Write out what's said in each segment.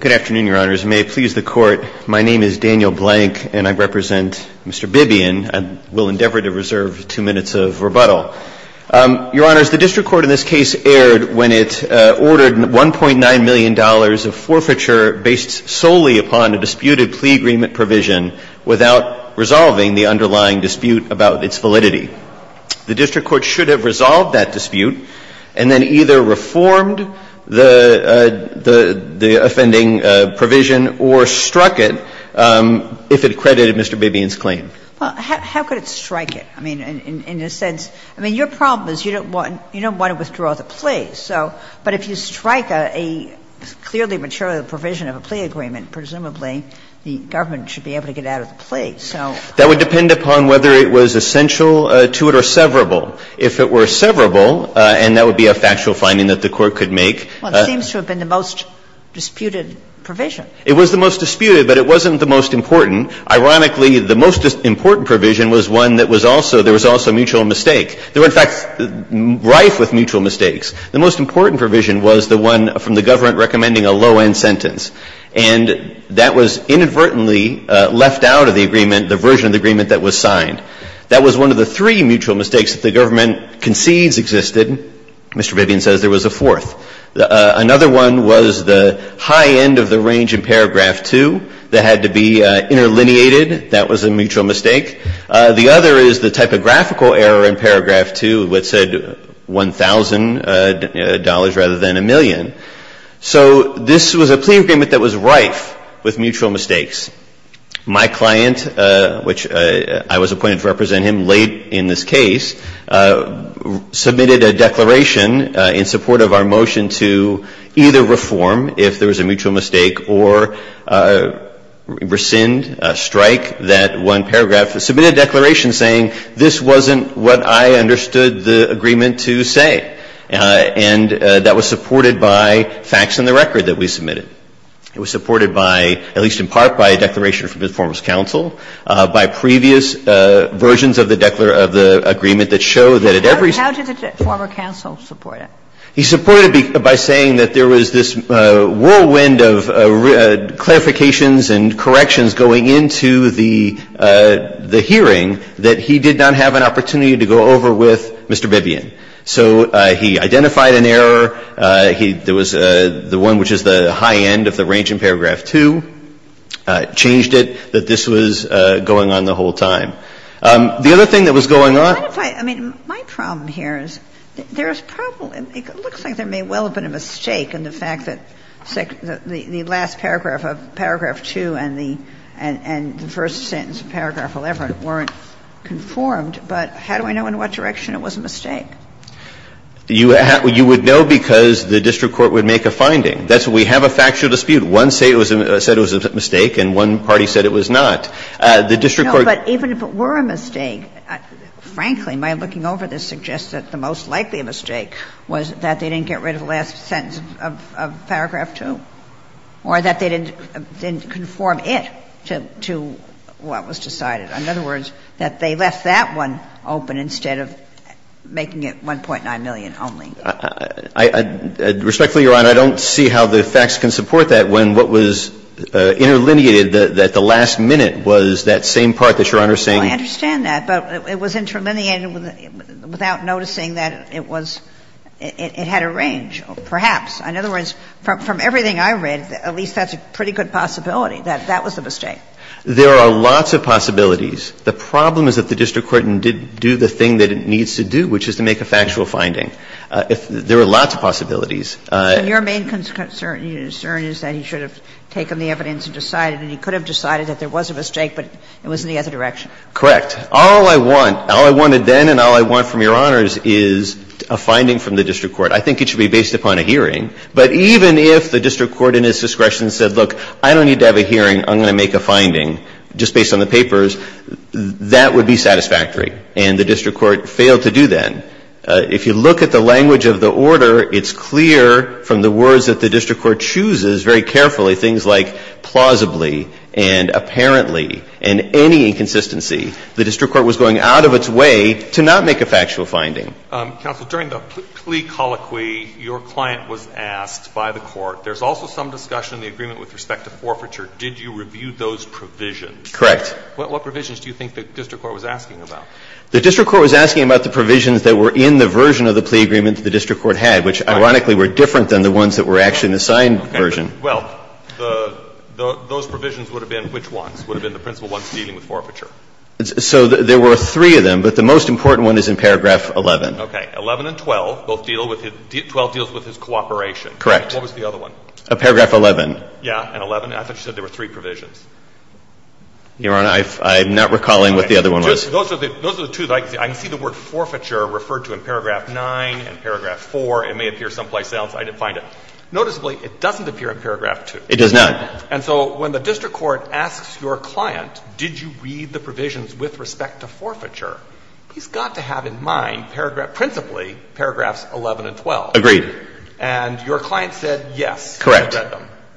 Good afternoon, Your Honors. May it please the Court, my name is Daniel Blank and I represent Mr. Bibian. I will endeavor to reserve two minutes of rebuttal. Your Honors, the district court in this case erred when it ordered $1.9 million of forfeiture based solely upon a disputed plea agreement provision without resolving the underlying dispute about its validity. The district court should have resolved that dispute and then either reformed the offending provision or struck it if it credited Mr. Bibian's claim. Well, how could it strike it? I mean, in a sense, I mean, your problem is you don't want to withdraw the plea, so, but if you strike a clearly material provision of a plea agreement, presumably the government should be able to get out of the plea. That would depend upon whether it was essential to it or severable. If it were severable, and that would be a factual finding that the Court could make. Well, it seems to have been the most disputed provision. It was the most disputed, but it wasn't the most important. Ironically, the most important provision was one that was also, there was also a mutual mistake. There were, in fact, rife with mutual mistakes. The most important provision was the one from the government recommending a low-end sentence, and that was inadvertently left out of the agreement, the version of the agreement that was signed. That was one of the three mutual mistakes that the government concedes existed. Mr. Bibian says there was a fourth. Another one was the high end of the range in paragraph 2 that had to be interlineated. That was a mutual mistake. The other is the typographical error in paragraph 2 that said $1,000 rather than a million. So this was a plea agreement that was rife with mutual mistakes. My client, which I was appointed to represent him late in this case, submitted a declaration in support of our motion to either reform if there was a mutual mistake or rescind, strike that one paragraph, submitted a declaration saying this wasn't what I understood the agreement to say. And that was supported by facts in the record that we submitted. It was supported by, at least in part, by a declaration from the former's counsel, by previous versions of the agreement that show that at every step. How did the former counsel support it? He supported it by saying that there was this whirlwind of clarifications and corrections going into the hearing that he did not have an opportunity to go over with Mr. Bibbian. So he identified an error. There was the one which is the high end of the range in paragraph 2, changed it, that this was going on the whole time. The other thing that was going on. I mean, my problem here is there's probably, it looks like there may well have been a mistake in the fact that the last paragraph of paragraph 2 and the first sentence of paragraph 11 weren't conformed. But how do I know in what direction it was a mistake? You would know because the district court would make a finding. That's why we have a factual dispute. One said it was a mistake and one party said it was not. The district court. No, but even if it were a mistake, frankly, my looking over this suggests that the most likely mistake was that they didn't get rid of the last sentence of paragraph 2, or that they didn't conform it to what was decided. In other words, that they left that one open instead of making it 1.9 million Respectfully, Your Honor, I don't see how the facts can support that when what was interlineated, that the last minute was that same part that Your Honor is saying. I understand that, but it was interlineated without noticing that it was, it had a range. Perhaps. In other words, from everything I read, at least that's a pretty good possibility that that was a mistake. There are lots of possibilities. The problem is that the district court didn't do the thing that it needs to do, which is to make a factual finding. There are lots of possibilities. Your main concern is that he should have taken the evidence and decided, and he could have decided that there was a mistake, but it was in the other direction. Correct. All I want, all I wanted then and all I want from Your Honors is a finding from the district court. I think it should be based upon a hearing. But even if the district court in its discretion said, look, I don't need to have a hearing, I'm going to make a finding just based on the papers, that would be satisfactory, and the district court failed to do that. If you look at the language of the order, it's clear from the words that the district court chooses very carefully, things like plausibly and apparently and any inconsistency, the district court was going out of its way to not make a factual finding. Counsel, during the plea colloquy, your client was asked by the court, there's also some discussion in the agreement with respect to forfeiture, did you review those provisions? Correct. What provisions do you think the district court was asking about? The district court was asking about the provisions that were in the version of the plea agreement that the district court had, which ironically were different than the ones that were actually in the signed version. Well, those provisions would have been which ones? Would have been the principal ones dealing with forfeiture? So there were three of them, but the most important one is in paragraph 11. Okay. 11 and 12, both deal with his, 12 deals with his cooperation. Correct. What was the other one? Paragraph 11. Yeah, and 11, I thought you said there were three provisions. Your Honor, I'm not recalling what the other one was. Those are the two that I can see. I can see the word forfeiture referred to in paragraph 9 and paragraph 4. It may appear someplace else. I didn't find it. Noticeably, it doesn't appear in paragraph 2. It does not. And so when the district court asks your client, did you read the provisions with respect to forfeiture, he's got to have in mind paragraph, principally, paragraphs 11 and 12. Agreed. And your client said yes. Correct.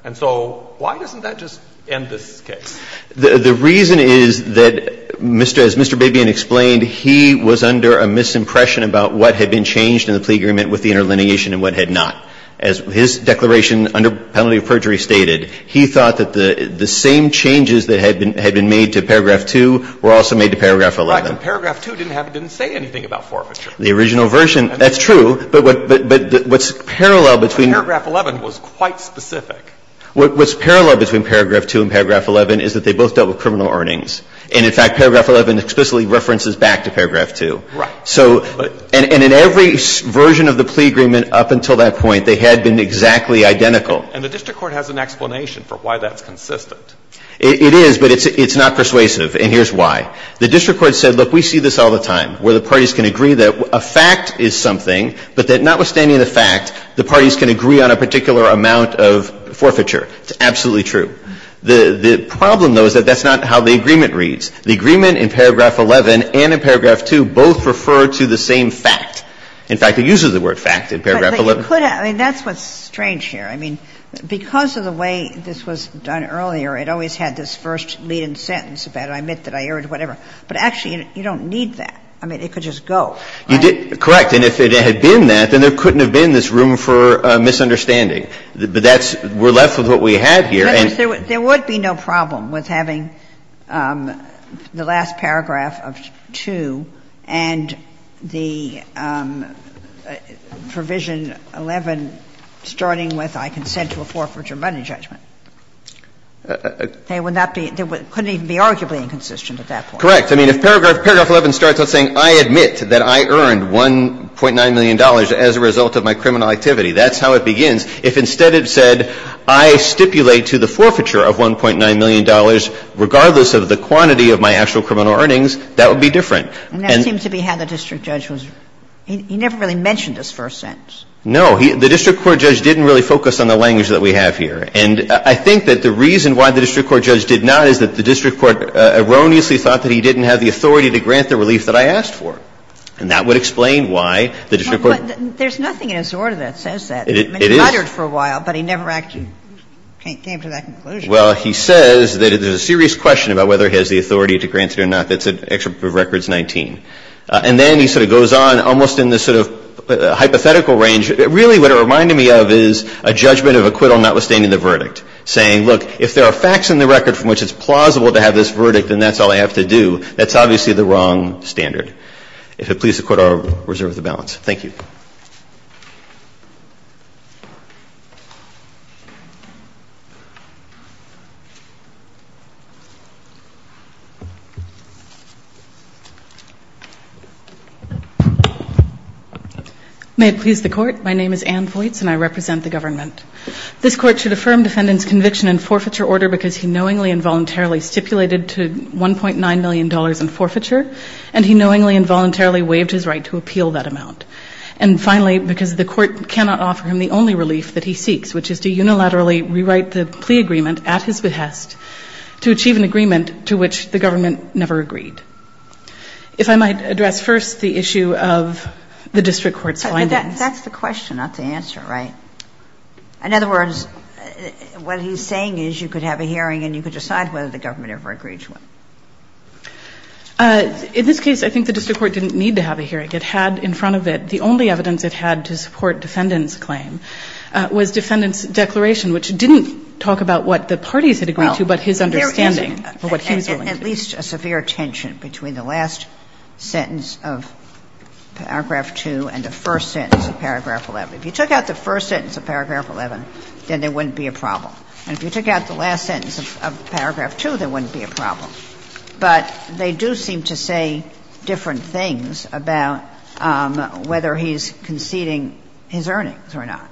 And so why doesn't that just end this case? The reason is that, as Mr. Babian explained, he was under a misimpression about what had been changed in the plea agreement with the interlineation and what had not. As his declaration under penalty of perjury stated, he thought that the same changes that had been made to paragraph 2 were also made to paragraph 11. But paragraph 2 didn't say anything about forfeiture. The original version, that's true. But what's parallel between paragraph 11 was quite specific. What's parallel between paragraph 2 and paragraph 11 is that they both dealt with criminal earnings. And in fact, paragraph 11 explicitly references back to paragraph 2. Right. So, and in every version of the plea agreement up until that point, they had been exactly identical. And the district court has an explanation for why that's consistent. It is, but it's not persuasive, and here's why. The district court said, look, we see this all the time, where the parties can agree that a fact is something, but that notwithstanding the fact, the parties can agree on a particular amount of forfeiture. It's absolutely true. The problem, though, is that that's not how the agreement reads. The agreement in paragraph 11 and in paragraph 2 both refer to the same fact. In fact, it uses the word fact in paragraph 11. But you could have – I mean, that's what's strange here. I mean, because of the way this was done earlier, it always had this first lead-in sentence about I admit that I earned whatever. But actually, you don't need that. I mean, it could just go. You did – correct. And if it had been that, then there couldn't have been this room for misunderstanding. But that's – we're left with what we had here. There would be no problem with having the last paragraph of 2 and the Provision 11 starting with I consent to a forfeiture money judgment. They would not be – they couldn't even be arguably inconsistent at that point. Correct. I mean, if paragraph 11 starts out saying I admit that I earned $1.9 million as a result of my criminal activity, that's how it begins. If instead it said I stipulate to the forfeiture of $1.9 million, regardless of the quantity of my actual criminal earnings, that would be different. And that seems to be how the district judge was – he never really mentioned this first sentence. No. He – the district court judge didn't really focus on the language that we have here. And I think that the reason why the district court judge did not is that the district court erroneously thought that he didn't have the authority to grant the relief that I asked for. And that would explain why the district court – Well, but there's nothing in his order that says that. It is. He muttered for a while, but he never actually came to that conclusion. Well, he says that there's a serious question about whether he has the authority to grant it or not. That's in Excerpt of Records 19. And then he sort of goes on, almost in this sort of hypothetical range. Really what it reminded me of is a judgment of acquittal notwithstanding the verdict, saying, look, if there are facts in the record from which it's plausible to have this verdict, then that's all I have to do. That's obviously the wrong standard. If it pleases the Court, I'll reserve the balance. Thank you. May it please the Court. My name is Ann Voights, and I represent the government. This Court should affirm defendant's conviction in forfeiture order because he knowingly and voluntarily stipulated to $1.9 million in forfeiture, and he knowingly and voluntarily waived his right to appeal that amount. And finally, because the Court cannot offer him the only relief that he seeks, which is to unilaterally rewrite the plea agreement at his behest to achieve an agreement to which the government never agreed. If I might address first the issue of the district court's findings. But that's the question, not the answer, right? In other words, what he's saying is you could have a hearing and you could decide whether the government ever agreed to it. In this case, I think the district court didn't need to have a hearing. It had in front of it, the only evidence it had to support defendant's claim was defendant's declaration, which didn't talk about what the parties had agreed to, but his understanding of what he was willing to do. At least a severe tension between the last sentence of paragraph 2 and the first sentence of paragraph 11. If you took out the first sentence of paragraph 11, then there wouldn't be a problem. And if you took out the last sentence of paragraph 2, there wouldn't be a problem. But they do seem to say different things about whether he's conceding his earnings or not.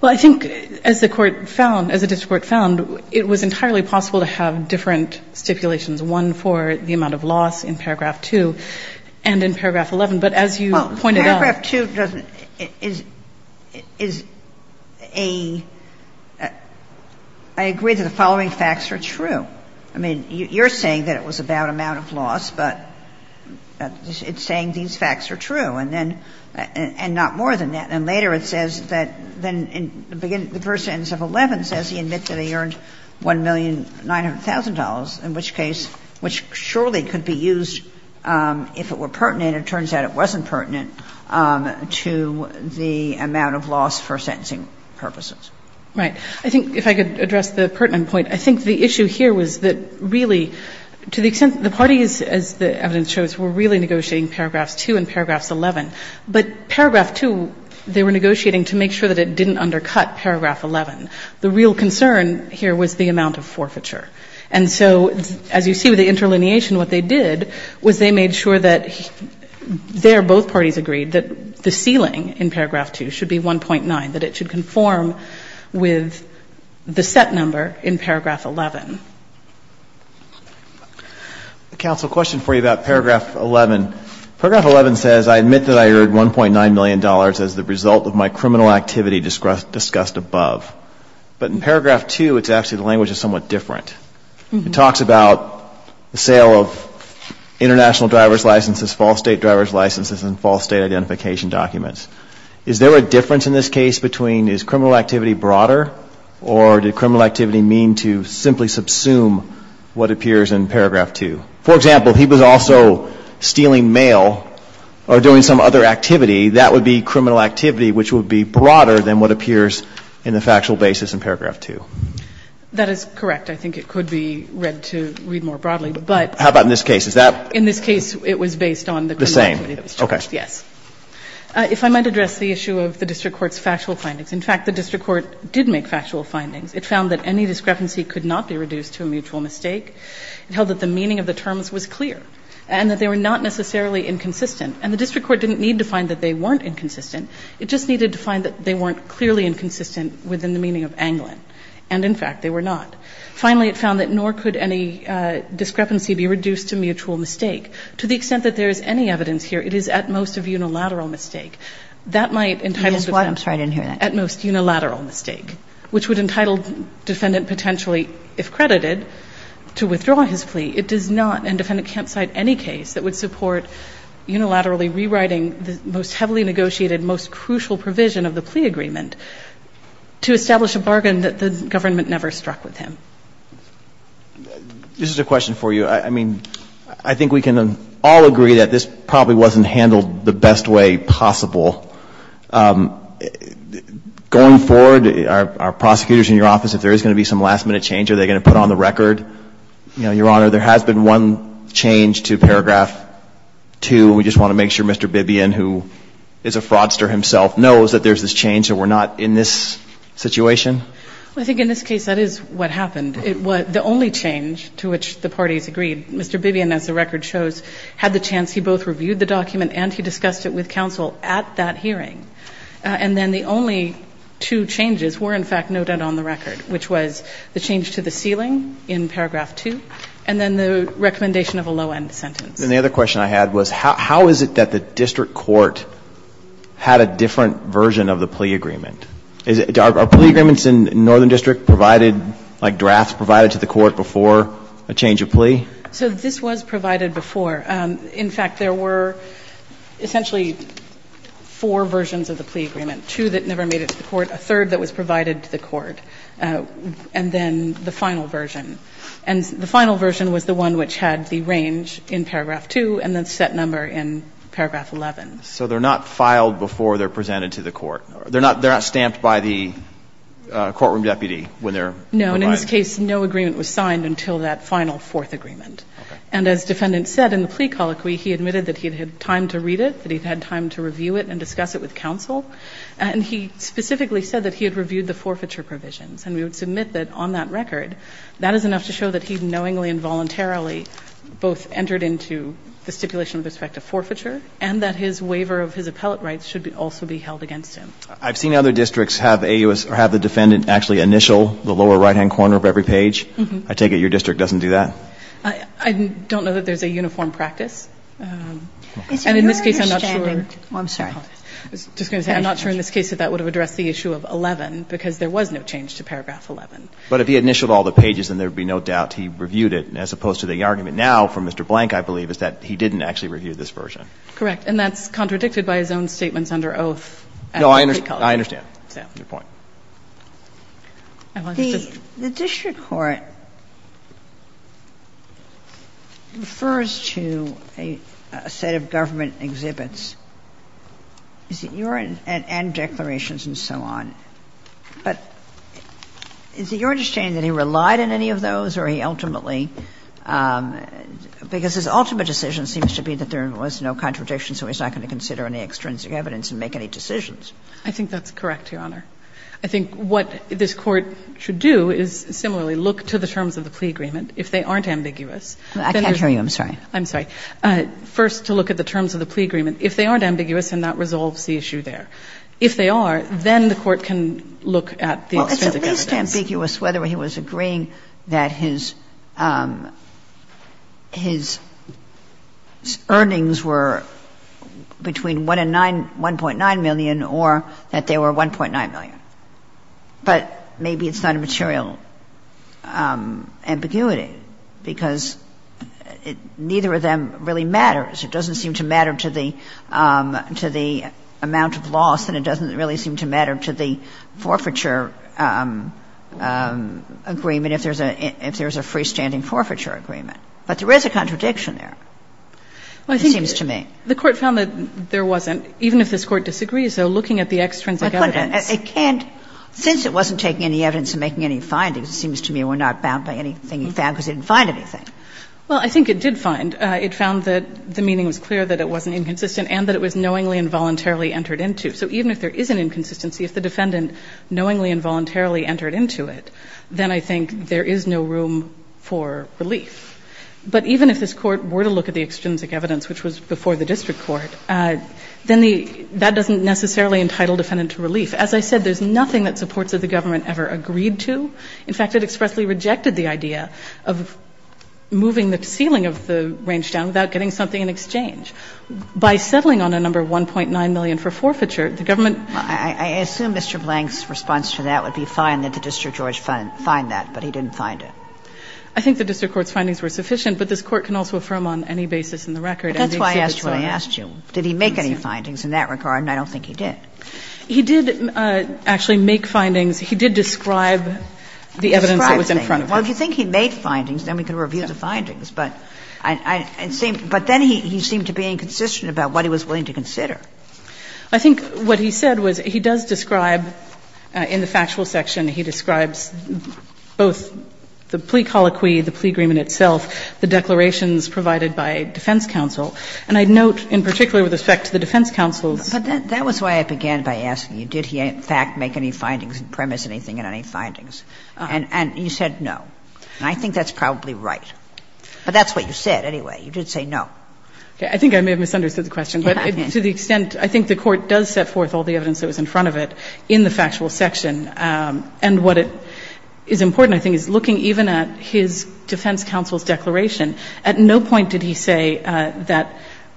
Well, I think as the court found, as the district court found, it was entirely possible to have different stipulations, one for the amount of loss in paragraph 2 and in paragraph 11. But as you pointed out. Well, paragraph 2 doesn't, is a, I agree that the following facts are true. I mean, you're saying that it was about amount of loss, but it's saying these facts are true. And then, and not more than that. And later it says that, then in the beginning, the first sentence of 11 says he admits that he earned $1,900,000, in which case, which surely could be used if it were pertinent. It turns out it wasn't pertinent to the amount of loss for sentencing purposes. Right. I think if I could address the pertinent point, I think the issue here was that really, to the extent, the parties, as the evidence shows, were really negotiating paragraphs 2 and paragraphs 11. But paragraph 2, they were negotiating to make sure that it didn't undercut paragraph 11. The real concern here was the amount of forfeiture. And so as you see with the interlineation, what they did was they made sure that there both parties agreed that the ceiling in paragraph 2 should be 1.9, that it should conform with the set number in paragraph 11. Counsel, a question for you about paragraph 11. Paragraph 11 says, I admit that I earned $1.9 million as the result of my criminal activity discussed above. But in paragraph 2, it's actually the language is somewhat different. It talks about the sale of international driver's licenses, false state driver's licenses, and false state identification documents. Is there a difference in this case between is criminal activity broader or did criminal activity mean to simply subsume what appears in paragraph 2? For example, he was also stealing mail or doing some other activity. That would be criminal activity, which would be broader than what appears in the factual basis in paragraph 2. That is correct. I think it could be read to read more broadly. But how about in this case? Is that? In this case, it was based on the criminal activity that was charged, yes. If I might address the issue of the district court's factual findings. In fact, the district court did make factual findings. It found that any discrepancy could not be reduced to a mutual mistake. It held that the meaning of the terms was clear and that they were not necessarily inconsistent. And the district court didn't need to find that they weren't inconsistent. It just needed to find that they weren't clearly inconsistent within the meaning of angling. And in fact, they were not. Finally, it found that nor could any discrepancy be reduced to mutual mistake. To the extent that there is any evidence here, it is at most of unilateral mistake. That might entitle to. I'm sorry to hear that. At most unilateral mistake, which would entitle defendant potentially, if credited, to withdraw his plea. It does not, and defendant can't cite any case that would support unilaterally rewriting the most heavily negotiated, most crucial provision of the plea agreement to establish a bargain that the government never struck with him. This is a question for you. I mean, I think we can all agree that this probably wasn't handled the best way possible. Going forward, our prosecutors in your office, if there is going to be some last minute change, are they going to put on the record? Your Honor, there has been one change to paragraph 2. We just want to make sure Mr. Bibbion, who is a fraudster himself, knows that there is this change and we're not in this situation. I think in this case, that is what happened. It was the only change to which the parties agreed. Mr. Bibbion, as the record shows, had the chance. He both reviewed the document and he discussed it with counsel at that hearing. And then the only two changes were, in fact, noted on the record, which was the change to the ceiling in paragraph 2 and then the recommendation of a low-end sentence. And the other question I had was how is it that the district court had a different version of the plea agreement? Are plea agreements in Northern District provided, like drafts provided to the court before a change of plea? So this was provided before. In fact, there were essentially four versions of the plea agreement, two that never made it to the court, a third that was provided to the court, and then the final version. And the final version was the one which had the range in paragraph 2 and the set number in paragraph 11. So they're not filed before they're presented to the court? They're not stamped by the courtroom deputy when they're provided? No. In this case, no agreement was signed until that final fourth agreement. Okay. And as defendant said in the plea colloquy, he admitted that he had had time to read it, that he'd had time to review it and discuss it with counsel. And he specifically said that he had reviewed the forfeiture provisions. And we would submit that on that record, that is enough to show that he knowingly and voluntarily both entered into the stipulation with respect to forfeiture and that his waiver of his appellate rights should also be held against him. I've seen other districts have the defendant actually initial the lower right-hand corner of every page. I take it your district doesn't do that? I don't know that there's a uniform practice. And in this case, I'm not sure. I'm sorry. I was just going to say, I'm not sure in this case that that would have addressed the issue of 11, because there was no change to paragraph 11. But if he initialed all the pages, then there would be no doubt he reviewed it, as opposed to the argument now from Mr. Blank, I believe, is that he didn't actually review this version. Correct. And that's contradicted by his own statements under oath. No, I understand. I understand. Good point. The district court refers to a set of government exhibits and declarations and so on. But is it your understanding that he relied on any of those or he ultimately – because his ultimate decision seems to be that there was no contradiction, so he's not going to consider any extrinsic evidence and make any decisions? I think that's correct, Your Honor. I think what this Court should do is similarly look to the terms of the plea agreement. If they aren't ambiguous, then you're – I can't hear you. I'm sorry. I'm sorry. First, to look at the terms of the plea agreement. If they aren't ambiguous, then that resolves the issue there. If they are, then the Court can look at the extrinsic evidence. It's ambiguous whether he was agreeing that his earnings were between 1.9 million or that they were 1.9 million. But maybe it's not a material ambiguity because neither of them really matters. It doesn't seem to matter to the amount of loss, and it doesn't really seem to matter to the forfeiture agreement if there's a freestanding forfeiture agreement. But there is a contradiction there, it seems to me. The Court found that there wasn't, even if this Court disagrees, though, looking at the extrinsic evidence. It can't – since it wasn't taking any evidence and making any findings, it seems to me we're not bound by anything he found because he didn't find anything. Well, I think it did find. It found that the meaning was clear, that it wasn't inconsistent, and that it was knowingly and voluntarily entered into. So even if there is an inconsistency, if the defendant knowingly and voluntarily entered into it, then I think there is no room for relief. But even if this Court were to look at the extrinsic evidence, which was before the district court, then that doesn't necessarily entitle defendant to relief. As I said, there's nothing that supports that the government ever agreed to. In fact, it expressly rejected the idea of moving the ceiling of the range down without getting something in exchange. By settling on a number of $1.9 million for forfeiture, the government – Well, I assume Mr. Blank's response to that would be fine that the district court find that, but he didn't find it. I think the district court's findings were sufficient, but this Court can also affirm on any basis in the record – That's why I asked you what I asked you. Did he make any findings in that regard? And I don't think he did. He did actually make findings. He did describe the evidence that was in front of him. Well, if you think he made findings, then we can review the findings. But then he seemed to be inconsistent about what he was willing to consider. I think what he said was he does describe in the factual section, he describes both the plea colloquy, the plea agreement itself, the declarations provided by defense counsel. And I note in particular with respect to the defense counsel's – But that was why I began by asking you, did he in fact make any findings, premise anything in any findings? And you said no. And I think that's probably right. But that's what you said anyway. You did say no. Okay. I think I may have misunderstood the question. But to the extent – I think the Court does set forth all the evidence that was in front of it in the factual section. And what is important, I think, is looking even at his defense counsel's declaration. At no point did he say that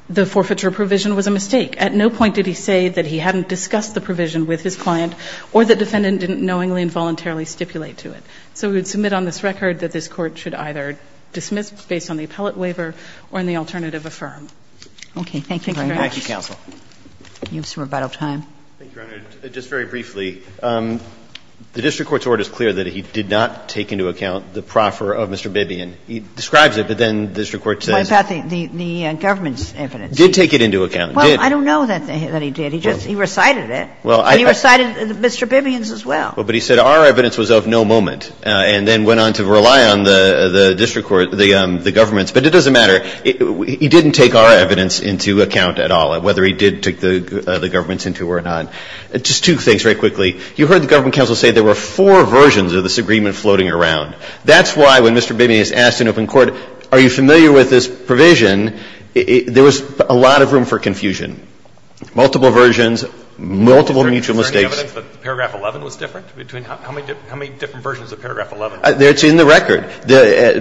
the forfeiture provision was a mistake. At no point did he say that he hadn't discussed the provision with his client or the defendant didn't knowingly and voluntarily stipulate to it. So we would submit on this record that this Court should either dismiss based on the appellate waiver or in the alternative affirm. Okay. Thank you very much. Thank you, counsel. You have some rebuttal time. Thank you, Your Honor. Just very briefly, the district court's order is clear that he did not take into account the proffer of Mr. Bibbion. He describes it, but then the district court says – What about the government's evidence? Did take it into account. Well, I don't know that he did. He just – he recited it. And he recited Mr. Bibbion's as well. Well, but he said our evidence was of no moment and then went on to rely on the district court, the government's. But it doesn't matter. He didn't take our evidence into account at all, whether he did take the government's into or not. Just two things very quickly. You heard the government counsel say there were four versions of this agreement floating around. That's why when Mr. Bibbion is asked in open court, are you familiar with this provision, there was a lot of room for confusion, multiple versions, multiple mutual mistakes. Is there any evidence that paragraph 11 was different? How many different versions of paragraph 11? That's in the record.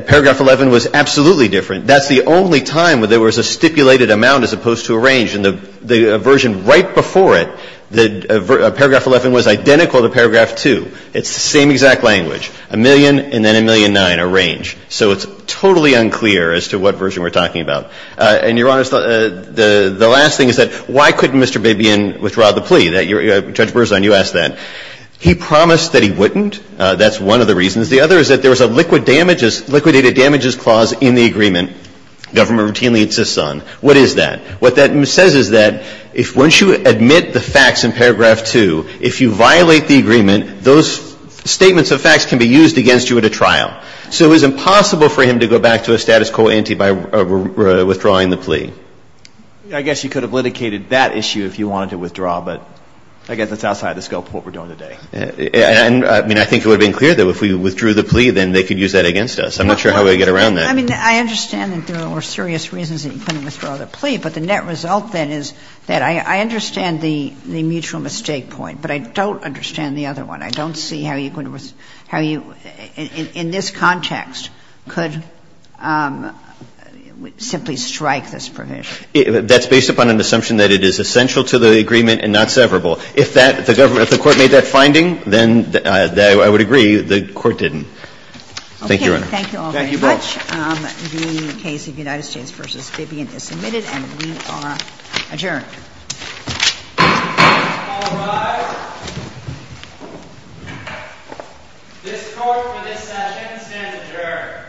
Paragraph 11 was absolutely different. That's the only time where there was a stipulated amount as opposed to a range. And the version right before it, paragraph 11 was identical to paragraph 2. It's the same exact language. A million and then a million nine, a range. So it's totally unclear as to what version we are talking about. And, Your Honor, the last thing is that why couldn't Mr. Bibbion withdraw the plea? Judge Berzon, you asked that. He promised that he wouldn't. That's one of the reasons. The other is that there was a liquid damages, liquidated damages clause in the agreement government routinely insists on. What is that? What that says is that once you admit the facts in paragraph 2, if you violate the agreement, those statements of facts can be used against you at a trial. So it was impossible for him to go back to a status quo ante by withdrawing the plea. I guess you could have litigated that issue if you wanted to withdraw, but I guess that's outside the scope of what we're doing today. And I mean, I think it would have been clear that if we withdrew the plea, then they could use that against us. I'm not sure how we would get around that. I mean, I understand that there were serious reasons that he couldn't withdraw the plea, but the net result then is that I understand the mutual mistake point, but I don't understand the other one. I don't see how you could — how you, in this context, could simply strike this That's based upon an assumption that it is essential to the agreement and not severable. If that — if the court made that finding, then, I would agree, the court didn't. Thank you, Your Honor. Thank you all very much. The case of United States v. Vivian is submitted, and we are adjourned. All rise. This court for this session stands adjourned. Thank you.